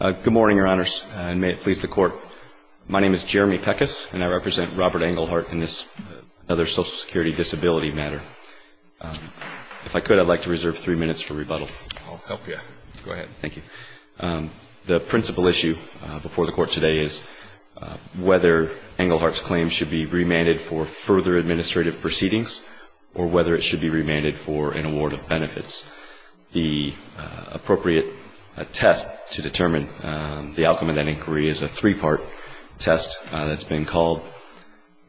Good morning, Your Honors, and may it please the Court. My name is Jeremy Peckis, and I represent Robert Englehardt in this other Social Security disability matter. If I could, I'd like to reserve three minutes for rebuttal. I'll help you. Go ahead. Thank you. The principal issue before the Court today is whether Englehardt's claim should be remanded for further investigation. I think that the best way to determine the outcome of that inquiry is a three-part test that's been called,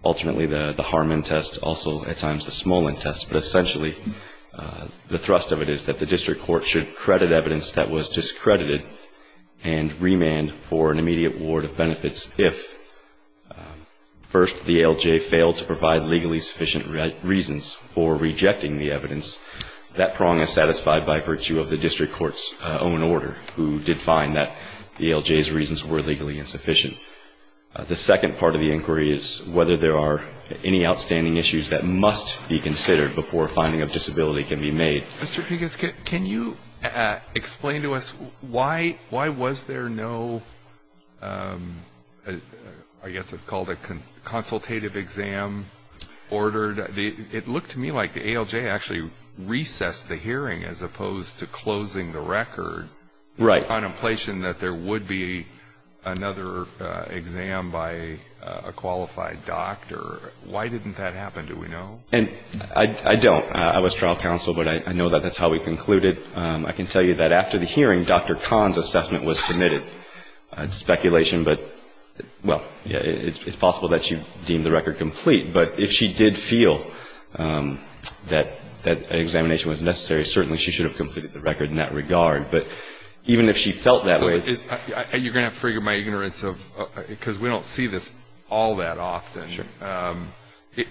ultimately the Harmon test, also at times the Smolin test. But essentially the thrust of it is that the district court should credit evidence that was discredited and remand for an immediate award of benefits if, first, the ALJ failed to provide legally sufficient reasons for rejecting the evidence. That prong is satisfied by virtue of the district court's own order, who did find that the ALJ's reasons were legally insufficient. The second part of the inquiry is whether there are any outstanding issues that must be considered before a finding of disability can be made. Mr. Peckis, can you explain to us why was there no, I guess it's called a consultative exam ordered? It looked to me like the ALJ actually recessed the hearing as opposed to closing the record. Right. The contemplation that there would be another exam by a qualified doctor. Why didn't that happen, do we know? And I don't. I was trial counsel, but I know that that's how we concluded. I can tell you that after the hearing, Dr. Kahn's assessment was submitted. It's speculation, but, well, it's possible that she deemed the record complete. But if she did feel that that examination was necessary, certainly she should have completed the record in that regard. But even if she felt that way You're going to have to figure my ignorance of, because we don't see this all that often. Sure.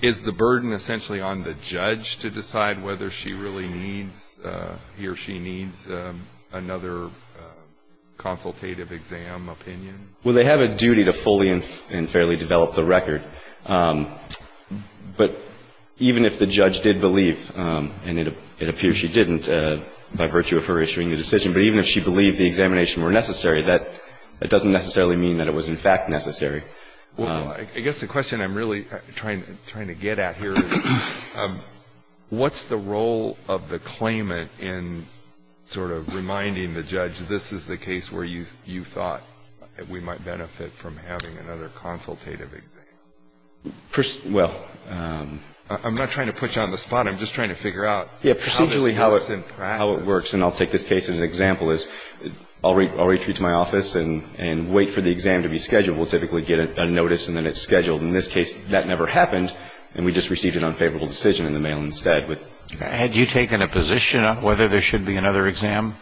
Is the burden essentially on the judge to decide whether she really needs, he or she needs another consultative exam opinion? Well, they have a duty to fully and fairly develop the record. But even if the judge did believe, and it appears she didn't by virtue of her issuing the decision, but even if she believed the examination were necessary, that doesn't necessarily mean that it was in fact necessary. Well, I guess the question I'm really trying to get at here is, what's the role of the claimant in sort of reminding the judge, this is the case where you thought we might benefit from having another consultative exam? Well I'm not trying to put you on the spot. I'm just trying to figure out how this works in practice. Yeah, procedurally how it works, and I'll take this case as an example, is I'll retreat to my office and wait for the exam to be scheduled. We'll typically get a notice and then it's scheduled. In this case, that never happened, and we just received an unfavorable decision in the mail instead. Had you taken a position on whether there should be another exam?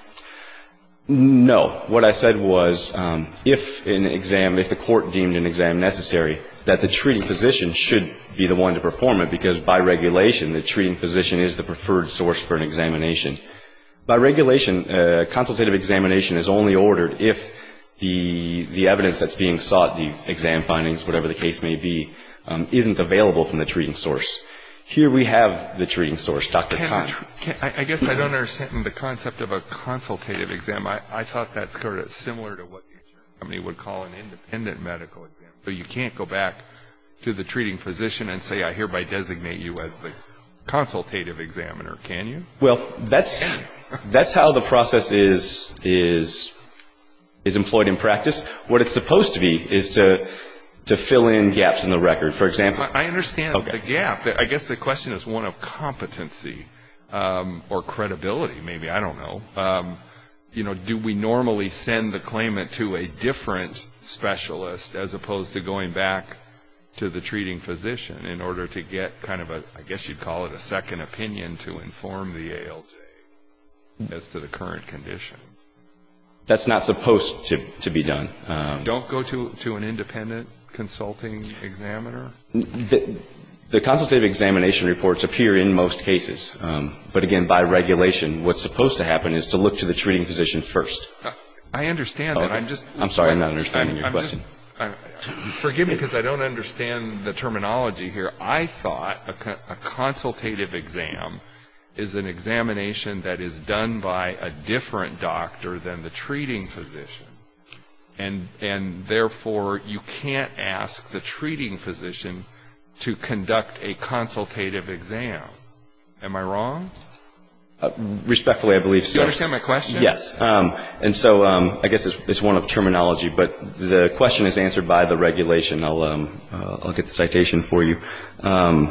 No. What I said was, if an exam, if the court deemed an exam necessary, that the treating physician should be the one to perform it, because by regulation, the treating physician is the preferred source for an examination. By regulation, consultative examination is only ordered if the evidence that's being sought, the exam findings, whatever the case may be, isn't available from the treating source. Here we have the treating source, Dr. Contra. I guess I don't understand the concept of a consultative exam. I thought that's sort of similar to what the insurance company would call an independent medical exam. So you can't go back to the treating physician and say, I hereby designate you as the consultative examiner, can you? Well, that's how the process is employed in practice. What it's supposed to be is to fill in gaps in the record. For example I understand the gap. I guess the question is one of competency or credibility, maybe, I don't know. Do we normally send the claimant to a different specialist as opposed to going back to the treating physician in order to get kind of a, I guess you'd call it a second opinion to inform the ALJ as to the current condition? That's not supposed to be done. Don't go to an independent consulting examiner? The consultative examination reports appear in most cases. But again, by regulation, what's supposed to happen is to look to the treating physician first. I understand that. I'm sorry, I'm not understanding your question. Forgive me because I don't understand the terminology here. I thought a consultative exam is an examination that is done by a different doctor than the treating physician. And therefore, you can't ask the treating physician to conduct a consultative exam. Am I wrong? Respectfully, I believe so. Do you understand my question? Yes. And so I guess it's one of terminology. But the question is answered by the regulation. I'll get the citation for you. 20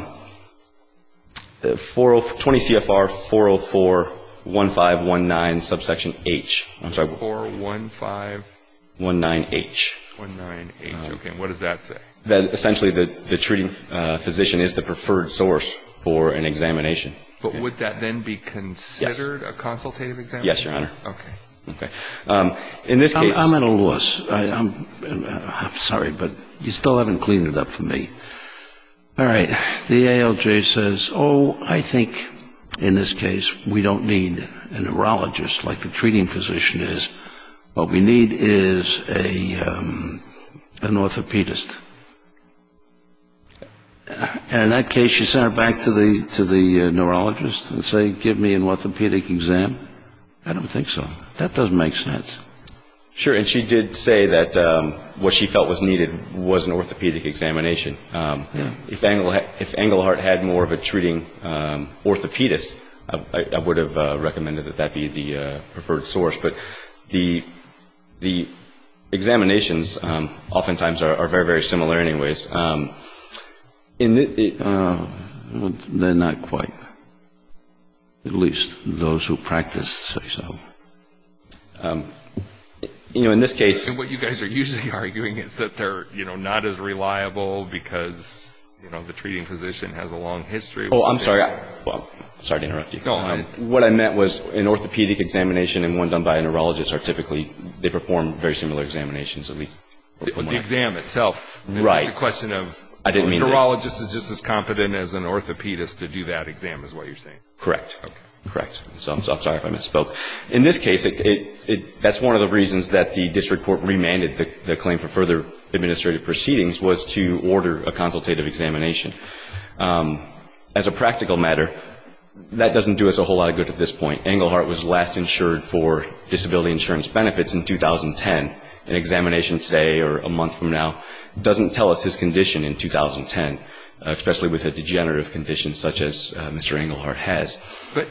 CFR 4041519 subsection H. I'm sorry. 4041519H. What does that say? Essentially, the treating physician is the preferred source for an examination. But would that then be considered a consultative examination? Yes, Your Honor. Okay. I'm at a loss. I'm sorry, but you still haven't cleaned it up for me. All right. The ALJ says, oh, I think in this case we don't need a neurologist like the treating physician is. What we need is an orthopedist. In that case, she sent her back to the neurologist and said, give me an orthopedic exam. I don't think so. That doesn't make sense. Sure, and she did say that what she felt was needed was an orthopedic examination. If Engelhardt had more of a treating orthopedist, I would have recommended that that be the preferred source. But the examinations oftentimes are very, very similar anyways. They're not quite, at least those who practice say so. You know, in this case. And what you guys are usually arguing is that they're, you know, not as reliable because, you know, the treating physician has a long history. Oh, I'm sorry. Well, sorry to interrupt you. What I meant was an orthopedic examination and one done by a neurologist are typically, they perform very similar examinations at least. The exam itself. Right. It's just a question of a neurologist is just as competent as an orthopedist to do that exam is what you're saying. Correct. Okay. Correct. So I'm sorry if I misspoke. In this case, that's one of the reasons that the district court remanded the claim for further administrative proceedings was to order a consultative examination. As a practical matter, that doesn't do us a whole lot of good at this point. Engelhardt was last insured for disability insurance benefits in 2010. An examination today or a month from now doesn't tell us his condition in 2010, especially with a degenerative condition such as Mr. Engelhardt has. But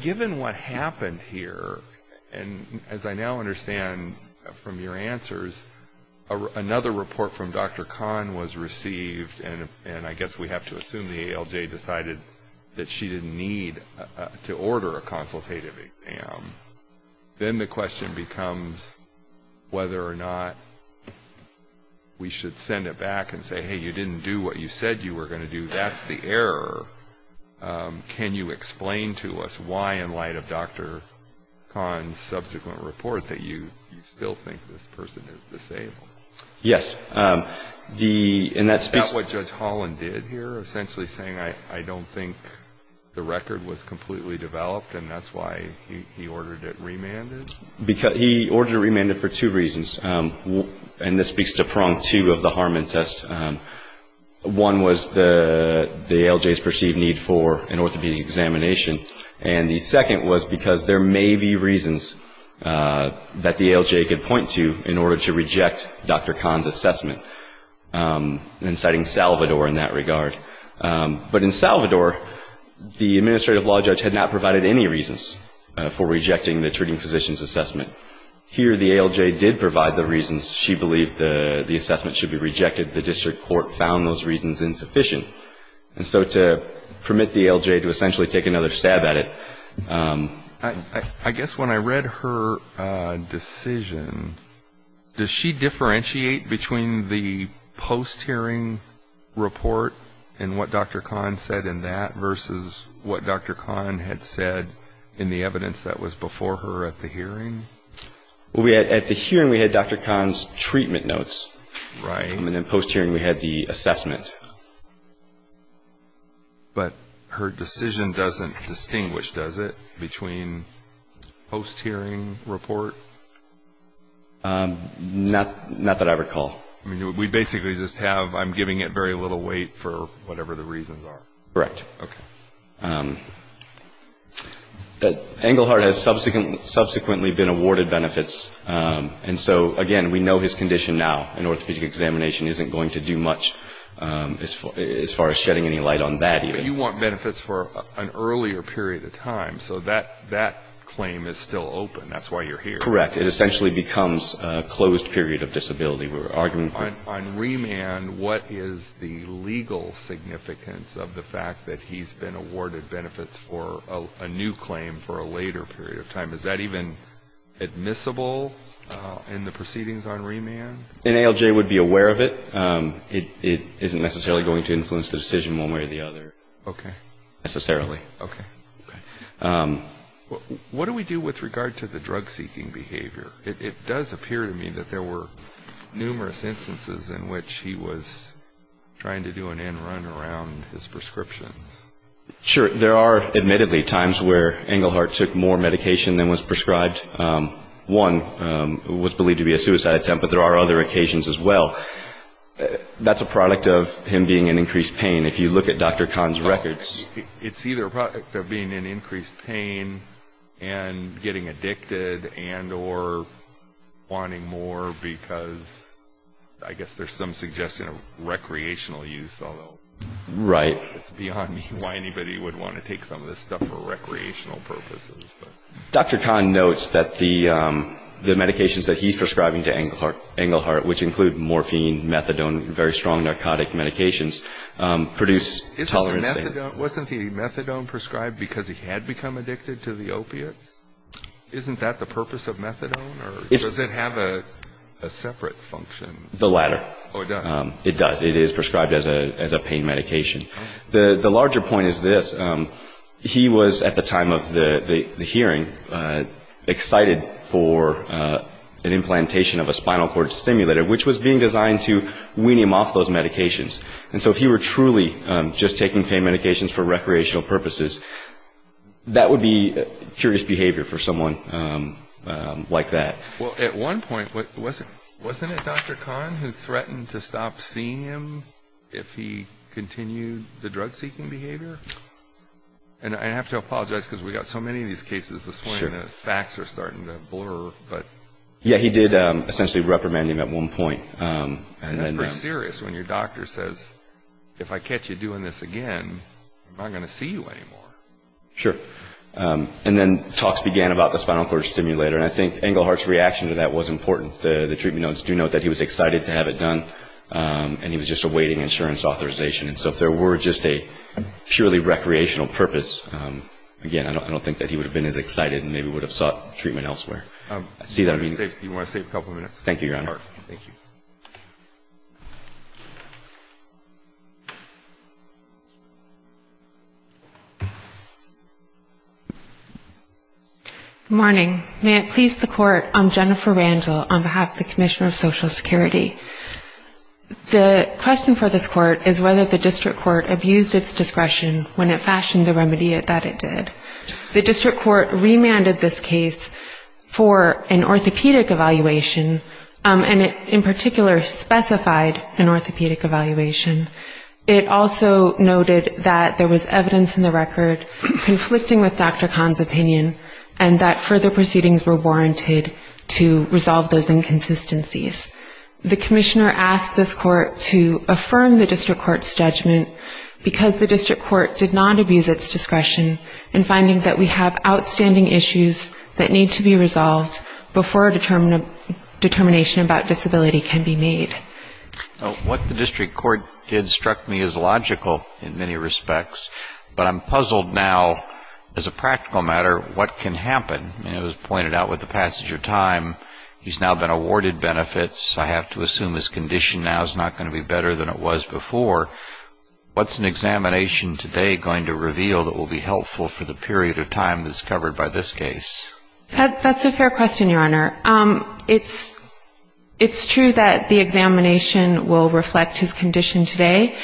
given what happened here, and as I now understand from your answers, another report from Dr. Kahn was received, and I guess we have to assume the ALJ decided that she didn't need to order a consultative exam. Then the question becomes whether or not we should send it back and say, hey, you didn't do what you said you were going to do. That's the error. Can you explain to us why, in light of Dr. Kahn's subsequent report, that you still think this person is disabled? Yes. The ‑‑ Is that what Judge Holland did here, essentially saying I don't think the record was completely developed and that's why he ordered it remanded? He ordered it remanded for two reasons, and this speaks to prong two of the Harmon test. One was the ALJ's perceived need for an orthopedic examination, and the second was because there may be reasons that the ALJ could point to in order to reject Dr. Kahn's assessment, inciting Salvador in that regard. But in Salvador, the administrative law judge had not provided any reasons for rejecting the treating physician's assessment. Here the ALJ did provide the reasons she believed the assessment should be rejected. The district court found those reasons insufficient. And so to permit the ALJ to essentially take another stab at it. I guess when I read her decision, does she differentiate between the post‑hearing report and what Dr. Kahn said in that versus what Dr. Kahn had said in the evidence that was before her at the hearing? Well, at the hearing we had Dr. Kahn's treatment notes. Right. And then post‑hearing we had the assessment. But her decision doesn't distinguish, does it, between post‑hearing report? Not that I recall. I mean, we basically just have I'm giving it very little weight for whatever the reasons are. Correct. Okay. But Engelhardt has subsequently been awarded benefits. And so, again, we know his condition now. An orthopedic examination isn't going to do much as far as shedding any light on that either. But you want benefits for an earlier period of time. So that claim is still open. That's why you're here. Correct. It essentially becomes a closed period of disability. We're arguing for it. On remand, what is the legal significance of the fact that he's been awarded benefits for a new claim for a later period of time? Is that even admissible in the proceedings on remand? An ALJ would be aware of it. It isn't necessarily going to influence the decision one way or the other. Okay. Necessarily. Okay. Okay. What do we do with regard to the drug‑seeking behavior? It does appear to me that there were numerous instances in which he was trying to do an end run around his prescriptions. Sure. There are, admittedly, times where Engelhardt took more medication than was prescribed. One was believed to be a suicide attempt, but there are other occasions as well. That's a product of him being in increased pain. If you look at Dr. Kahn's records. It's either a product of being in increased pain and getting addicted and or wanting more because I guess there's some suggestion of recreational use. Right. It's beyond me why anybody would want to take some of this stuff for recreational purposes. Dr. Kahn notes that the medications that he's prescribing to Engelhardt, which include morphine, methadone, very strong narcotic medications, produce tolerance. Wasn't the methadone prescribed because he had become addicted to the opiate? Isn't that the purpose of methadone or does it have a separate function? The latter. Oh, it does. It does. It is prescribed as a pain medication. The larger point is this. He was, at the time of the hearing, excited for an implantation of a spinal cord stimulator, which was being designed to wean him off those medications. And so if he were truly just taking pain medications for recreational purposes, that would be curious behavior for someone like that. Well, at one point, wasn't it Dr. Kahn who threatened to stop seeing him if he continued the drug-seeking behavior? And I have to apologize because we've got so many of these cases this way and the facts are starting to blur. Yeah, he did essentially reprimand him at one point. And that's pretty serious when your doctor says, if I catch you doing this again, I'm not going to see you anymore. Sure. And then talks began about the spinal cord stimulator. And I think Engelhardt's reaction to that was important. The treatment notes do note that he was excited to have it done and he was just awaiting insurance authorization. And so if there were just a purely recreational purpose, again, I don't think that he would have been as excited and maybe would have sought treatment elsewhere. Do you want to save a couple minutes? Thank you, Your Honor. Thank you. Good morning. May it please the Court, I'm Jennifer Randall on behalf of the Commissioner of Social Security. The question for this Court is whether the district court abused its discretion when it fashioned the remedy that it did. The district court remanded this case for an orthopedic evaluation and it in particular specified an orthopedic evaluation. It also noted that there was evidence in the record conflicting with Dr. Kahn's opinion and that further proceedings were warranted to resolve those inconsistencies. The Commissioner asked this Court to affirm the district court's judgment because the district court did not abuse its discretion in finding that we have outstanding issues that need to be resolved before a determination about disability can be made. What the district court did struck me as logical in many respects, but I'm puzzled now as a practical matter what can happen. It was pointed out with the passage of time he's now been awarded benefits. I have to assume his condition now is not going to be better than it was before. What's an examination today going to reveal that will be helpful for the period of time that's covered by this case? That's a fair question, Your Honor. It's true that the examination will reflect his condition today,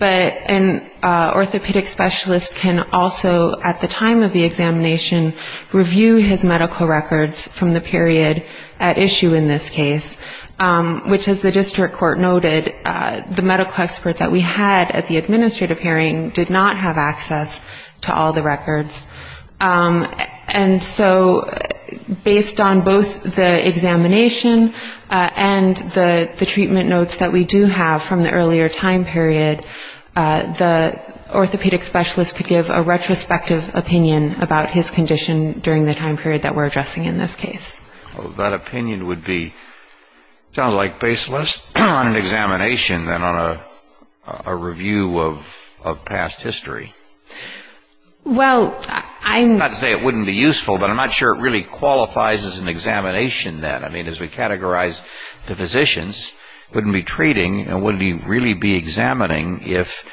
but an orthopedic specialist can also at the time of the examination review his medical records from the period at issue in this case, which as the district court noted, the medical expert that we had at the administrative hearing did not have access to all the records. And so based on both the examination and the treatment notes that we do have from the earlier time period, the orthopedic specialist could give a retrospective opinion about his condition during the time period that we're addressing in this case. Well, that opinion would be, sounds like, based less on an examination than on a review of past history. Well, I'm... Not to say it wouldn't be useful, but I'm not sure it really qualifies as an examination then. I mean, as we categorize the physicians, wouldn't be treating and wouldn't really be examining if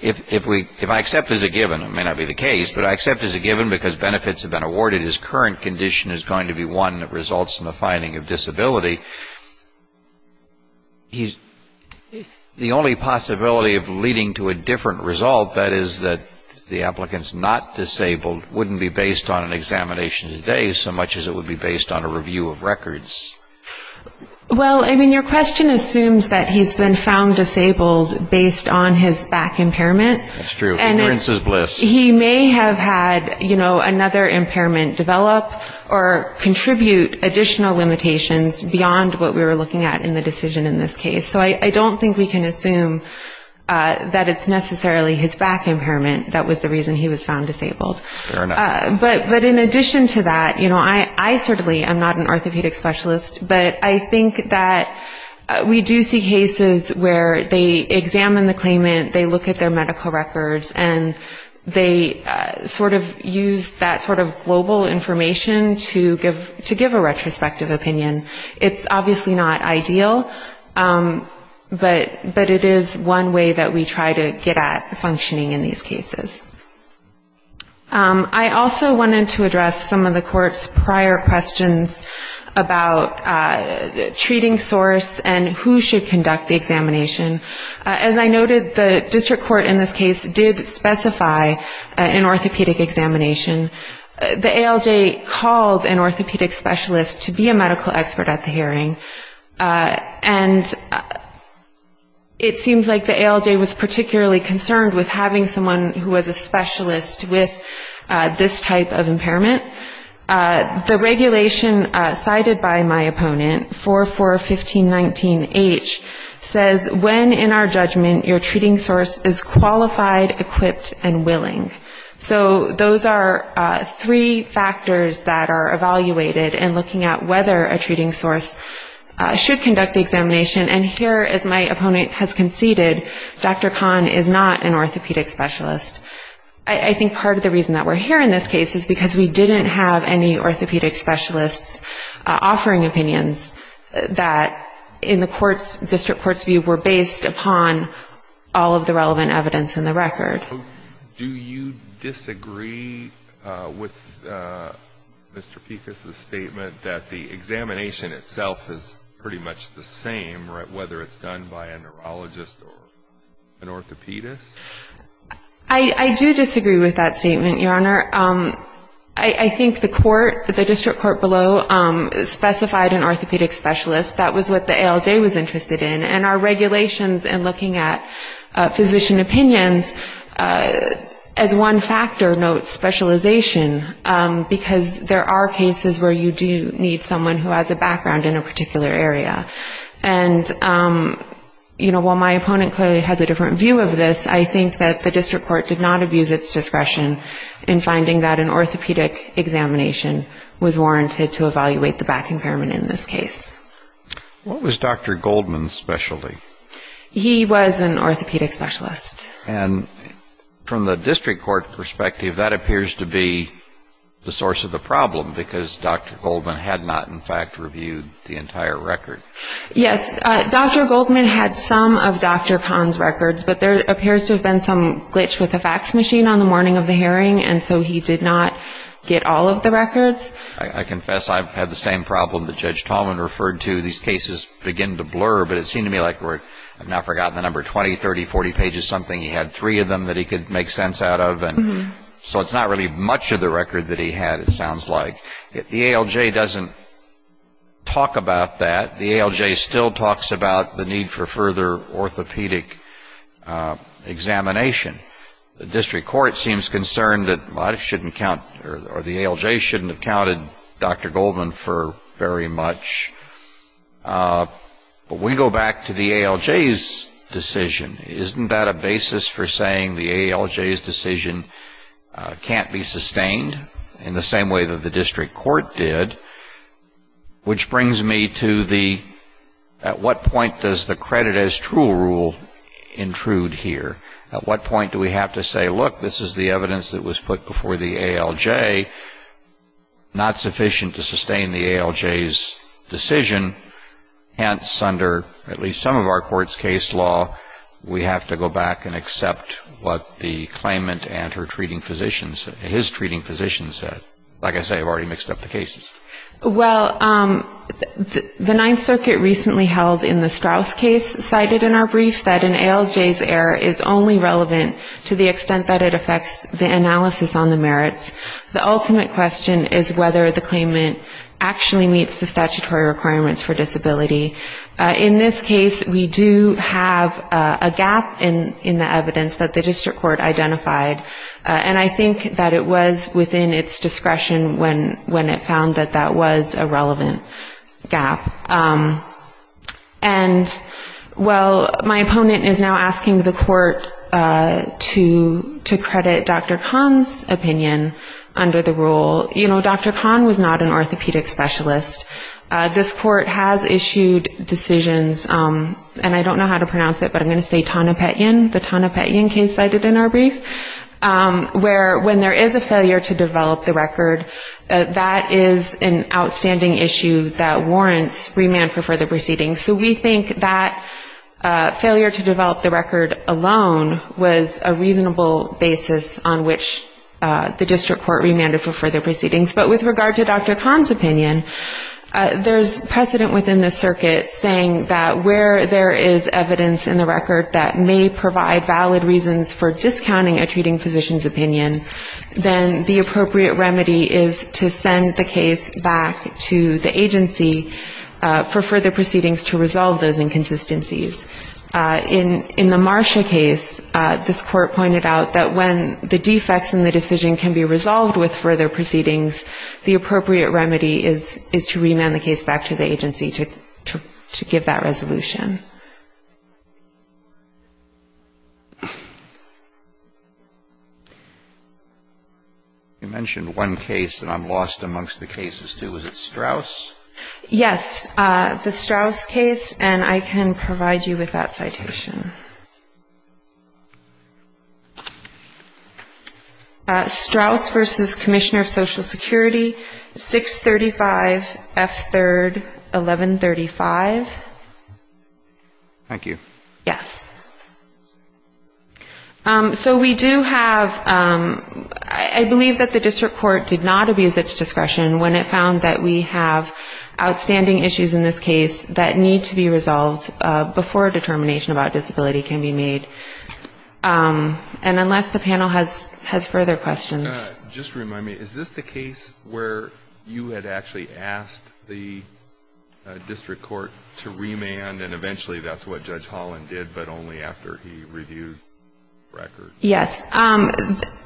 I accept as a given, it may not be the case, but I accept as a given because benefits have been awarded, his current condition is going to be one that results in a finding of disability. The only possibility of leading to a different result, that is that the applicant's not disabled, wouldn't be based on an examination today so much as it would be based on a Well, I mean, your question assumes that he's been found disabled based on his back impairment. That's true. Ignorance is bliss. He may have had, you know, another impairment develop or contribute additional limitations beyond what we were looking at in the decision in this case. So I don't think we can assume that it's necessarily his back impairment that was the reason he was found disabled. Fair enough. But in addition to that, you know, I certainly am not an orthopedic specialist, but I think that we do see cases where they examine the claimant, they look at their medical records, and they sort of use that sort of global information to give a retrospective opinion. It's obviously not ideal, but it is one way that we try to get at functioning in these cases. I also wanted to address some of the court's prior questions about treating source and who should conduct the examination. As I noted, the district court in this case did specify an orthopedic examination. The ALJ called an orthopedic specialist to be a medical expert at the hearing, and it seems like the ALJ was particularly concerned with having someone who was a specialist with this type of impairment. The regulation cited by my opponent, 4-4-15-19-H, says when in our judgment your treating source is qualified, equipped, and willing. So those are three factors that are evaluated in looking at whether a treating source should conduct the examination. And here, as my opponent has conceded, Dr. Kahn is not an orthopedic specialist. I think part of the reason that we're here in this case is because we didn't have any orthopedic specialists offering opinions that in the court's, district court's view, were based upon all of the relevant evidence in the record. that the examination itself is pretty much the same, whether it's done by a neurologist or an orthopedist? I do disagree with that statement, Your Honor. I think the court, the district court below, specified an orthopedic specialist. That was what the ALJ was interested in. And our regulations in looking at physician opinions, as one factor, note specialization, because there are cases where you do need someone who has a background in a particular area. And, you know, while my opponent clearly has a different view of this, I think that the district court did not abuse its discretion in finding that an orthopedic examination was warranted to evaluate the back impairment in this case. What was Dr. Goldman's specialty? He was an orthopedic specialist. And from the district court perspective, that appears to be the source of the problem, because Dr. Goldman had not, in fact, reviewed the entire record. Yes. Dr. Goldman had some of Dr. Kahn's records, but there appears to have been some glitch with the fax machine on the morning of the hearing, and so he did not get all of the records. I confess I've had the same problem that Judge Tallman referred to. These cases begin to blur, but it seemed to me like we're, I've now forgotten the number, 20, 30, 40 pages, something he had three of them that he could make sense out of. So it's not really much of the record that he had, it sounds like. The ALJ doesn't talk about that. The ALJ still talks about the need for further orthopedic examination. The district court seems concerned that I shouldn't count, or the ALJ shouldn't have counted Dr. Goldman for very much. But we go back to the ALJ's decision. Isn't that a basis for saying the ALJ's decision can't be sustained in the same way that the district court did? Which brings me to the, at what point does the credit as true rule intrude here? At what point do we have to say, look, this is the evidence that was put before the ALJ, not sufficient to sustain the ALJ's decision. Hence, under at least some of our court's case law, we have to go back and accept what the claimant and her treating physicians, his treating physicians said. Like I say, I've already mixed up the cases. Well, the Ninth Circuit recently held in the Straus case, cited in our brief that an ALJ's error is only relevant to the extent that it affects the analysis on the merits. The ultimate question is whether the claimant actually meets the statutory requirements for disability. In this case, we do have a gap in the evidence that the district court identified, and I think that it was within its discretion when it found that that was a relevant gap. And while my opponent is now asking the court to credit Dr. Kahn's opinion, under the rule, you know, Dr. Kahn was not an orthopedic specialist. This court has issued decisions, and I don't know how to pronounce it, but I'm going to say Taunapetian, the Taunapetian case cited in our brief, where when there is a failure to develop the record, that is an outstanding issue that warrants remand for further proceedings. So we think that failure to develop the record alone was a reasonable basis on which the district court remanded for further proceedings. But with regard to Dr. Kahn's opinion, there's precedent within the circuit saying that where there is evidence in the record that may provide valid reasons for discounting a treating physician's opinion, then the appropriate remedy is to send the case back to the agency for further proceedings to resolve those inconsistencies. In the Marsha case, this court pointed out that when the defects in the decision can be resolved with further proceedings, the appropriate remedy is to remand the case back to the agency to give that resolution. You mentioned one case, and I'm lost amongst the cases, too. Is it Strauss? Yes, the Strauss case, and I can provide you with that citation. Strauss v. Commissioner of Social Security, 635 F. 3rd, 1135. Thank you. Yes. So we do have ‑‑ I believe that the district court did not abuse its discretion when it found that we have outstanding issues in this case that need to be resolved before a determination about disability can be made. And unless the panel has further questions. Just to remind me, is this the case where you had actually asked the district court to remand, and eventually that's what Judge Holland did, but only after he reviewed the record? Yes.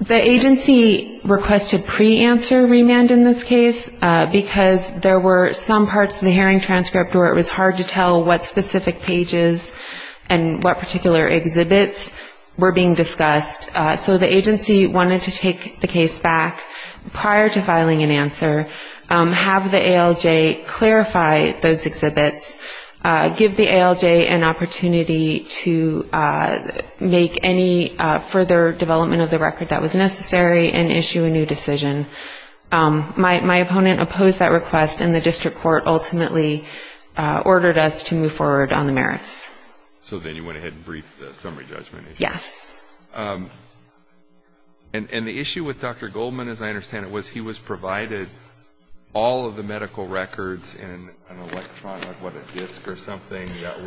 The agency requested preanswer remand in this case, because there were some parts of the hearing transcript where it was hard to tell what specific pages and what particular exhibits were being discussed. So the agency wanted to take the case back prior to filing an answer, have the ALJ clarify those exhibits, give the ALJ an opportunity to make any further development of the record that was necessary, and issue a new decision. My opponent opposed that request, and the district court ultimately ordered us to move forward on the merits. So then you went ahead and briefed the summary judgment issue. Yes. And the issue with Dr. Goldman, as I understand it, was he was provided all of the medical records in an electronic, what, a disk or something that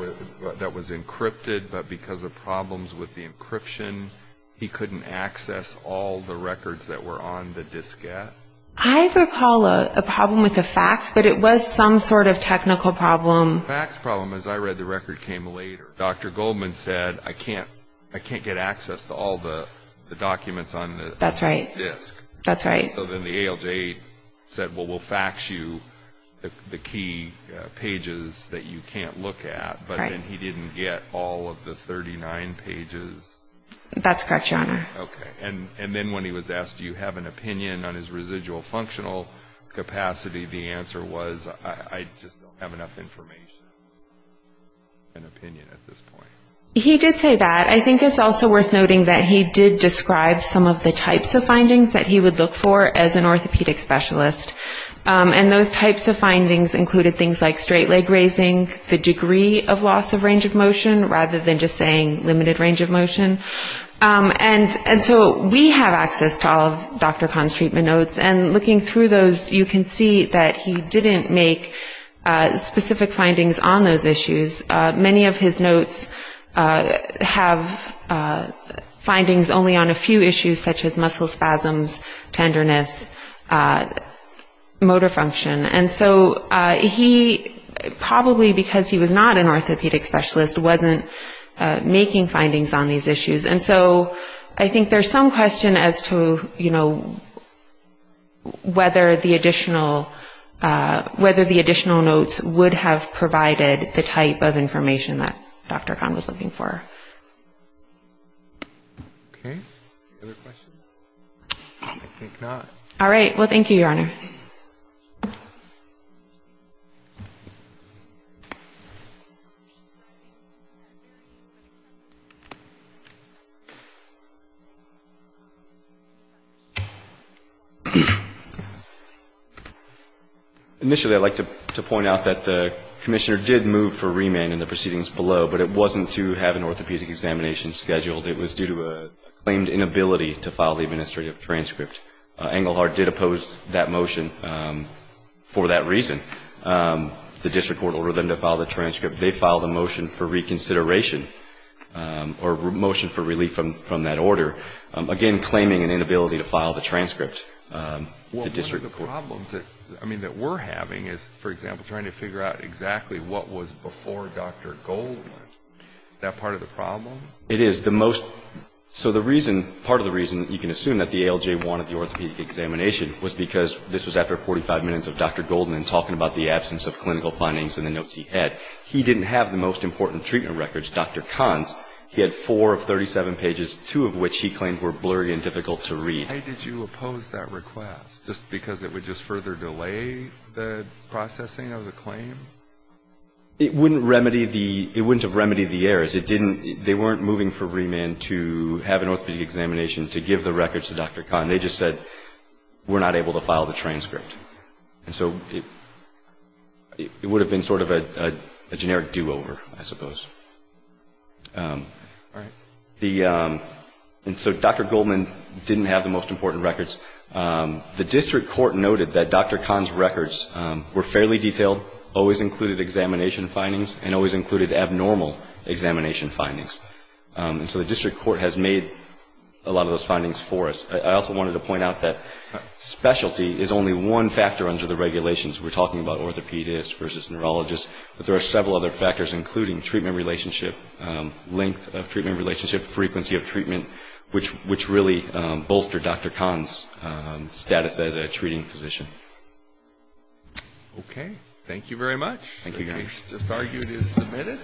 was encrypted, but because of problems with the encryption, he couldn't access all the records that were on the diskette. I recall a problem with the fax, but it was some sort of technical problem. The fax problem, as I read the record, came later. Dr. Goldman said, I can't get access to all the documents on this disk. That's right. So then the ALJ said, well, we'll fax you the key pages that you can't look at, but then he didn't get all of the 39 pages. That's correct, Your Honor. Okay. And then when he was asked, do you have an opinion on his residual functional capacity, the answer was, I just don't have enough information, an opinion at this point. He did say that. I think it's also worth noting that he did describe some of the types of findings that he would look for as an orthopedic specialist, and those types of findings included things like straight leg raising, the degree of loss of range of motion, rather than just saying limited range of motion. And so we have access to all of Dr. Kahn's treatment notes, and looking through those, you can see that he didn't make specific findings on those issues. Many of his notes have findings only on a few issues, such as muscle spasms, tenderness, motor function. And so he probably, because he was not an orthopedic specialist, wasn't making findings on these issues. And so I think there's some question as to, you know, whether the additional notes would have provided the type of information that Dr. Kahn was looking for. Okay. Other questions? I think not. All right. Well, thank you, Your Honor. Okay. Initially I'd like to point out that the commissioner did move for remand in the proceedings below, but it wasn't to have an orthopedic examination scheduled. It was due to a claimed inability to file the administrative transcript. Engelhardt did oppose that motion for that reason. The district court ordered them to file the transcript. They filed a motion for reconsideration or a motion for relief from that order, again, claiming an inability to file the transcript. Well, one of the problems that we're having is, for example, trying to figure out exactly what was before Dr. Goldman. Is that part of the problem? It is. So the reason, part of the reason you can assume that the ALJ wanted the orthopedic examination was because this was after 45 minutes of Dr. Goldman talking about the absence of clinical findings and the notes he had. He didn't have the most important treatment records, Dr. Kahn's. He had four of 37 pages, two of which he claimed were blurry and difficult to read. Why did you oppose that request? Just because it would just further delay the processing of the claim? It wouldn't remedy the errors. They weren't moving for remand to have an orthopedic examination to give the records to Dr. Kahn. They just said, we're not able to file the transcript. And so it would have been sort of a generic do-over, I suppose. And so Dr. Goldman didn't have the most important records. The district court noted that Dr. Kahn's records were fairly detailed, always included examination findings, and always included abnormal examination findings. And so the district court has made a lot of those findings for us. I also wanted to point out that specialty is only one factor under the regulations. We're talking about orthopedists versus neurologists. But there are several other factors, including treatment relationship, length of treatment relationship, frequency of treatment, which really bolstered Dr. Kahn's status as a treating physician. Okay. Thank you very much. Thank you, guys. This argument is submitted.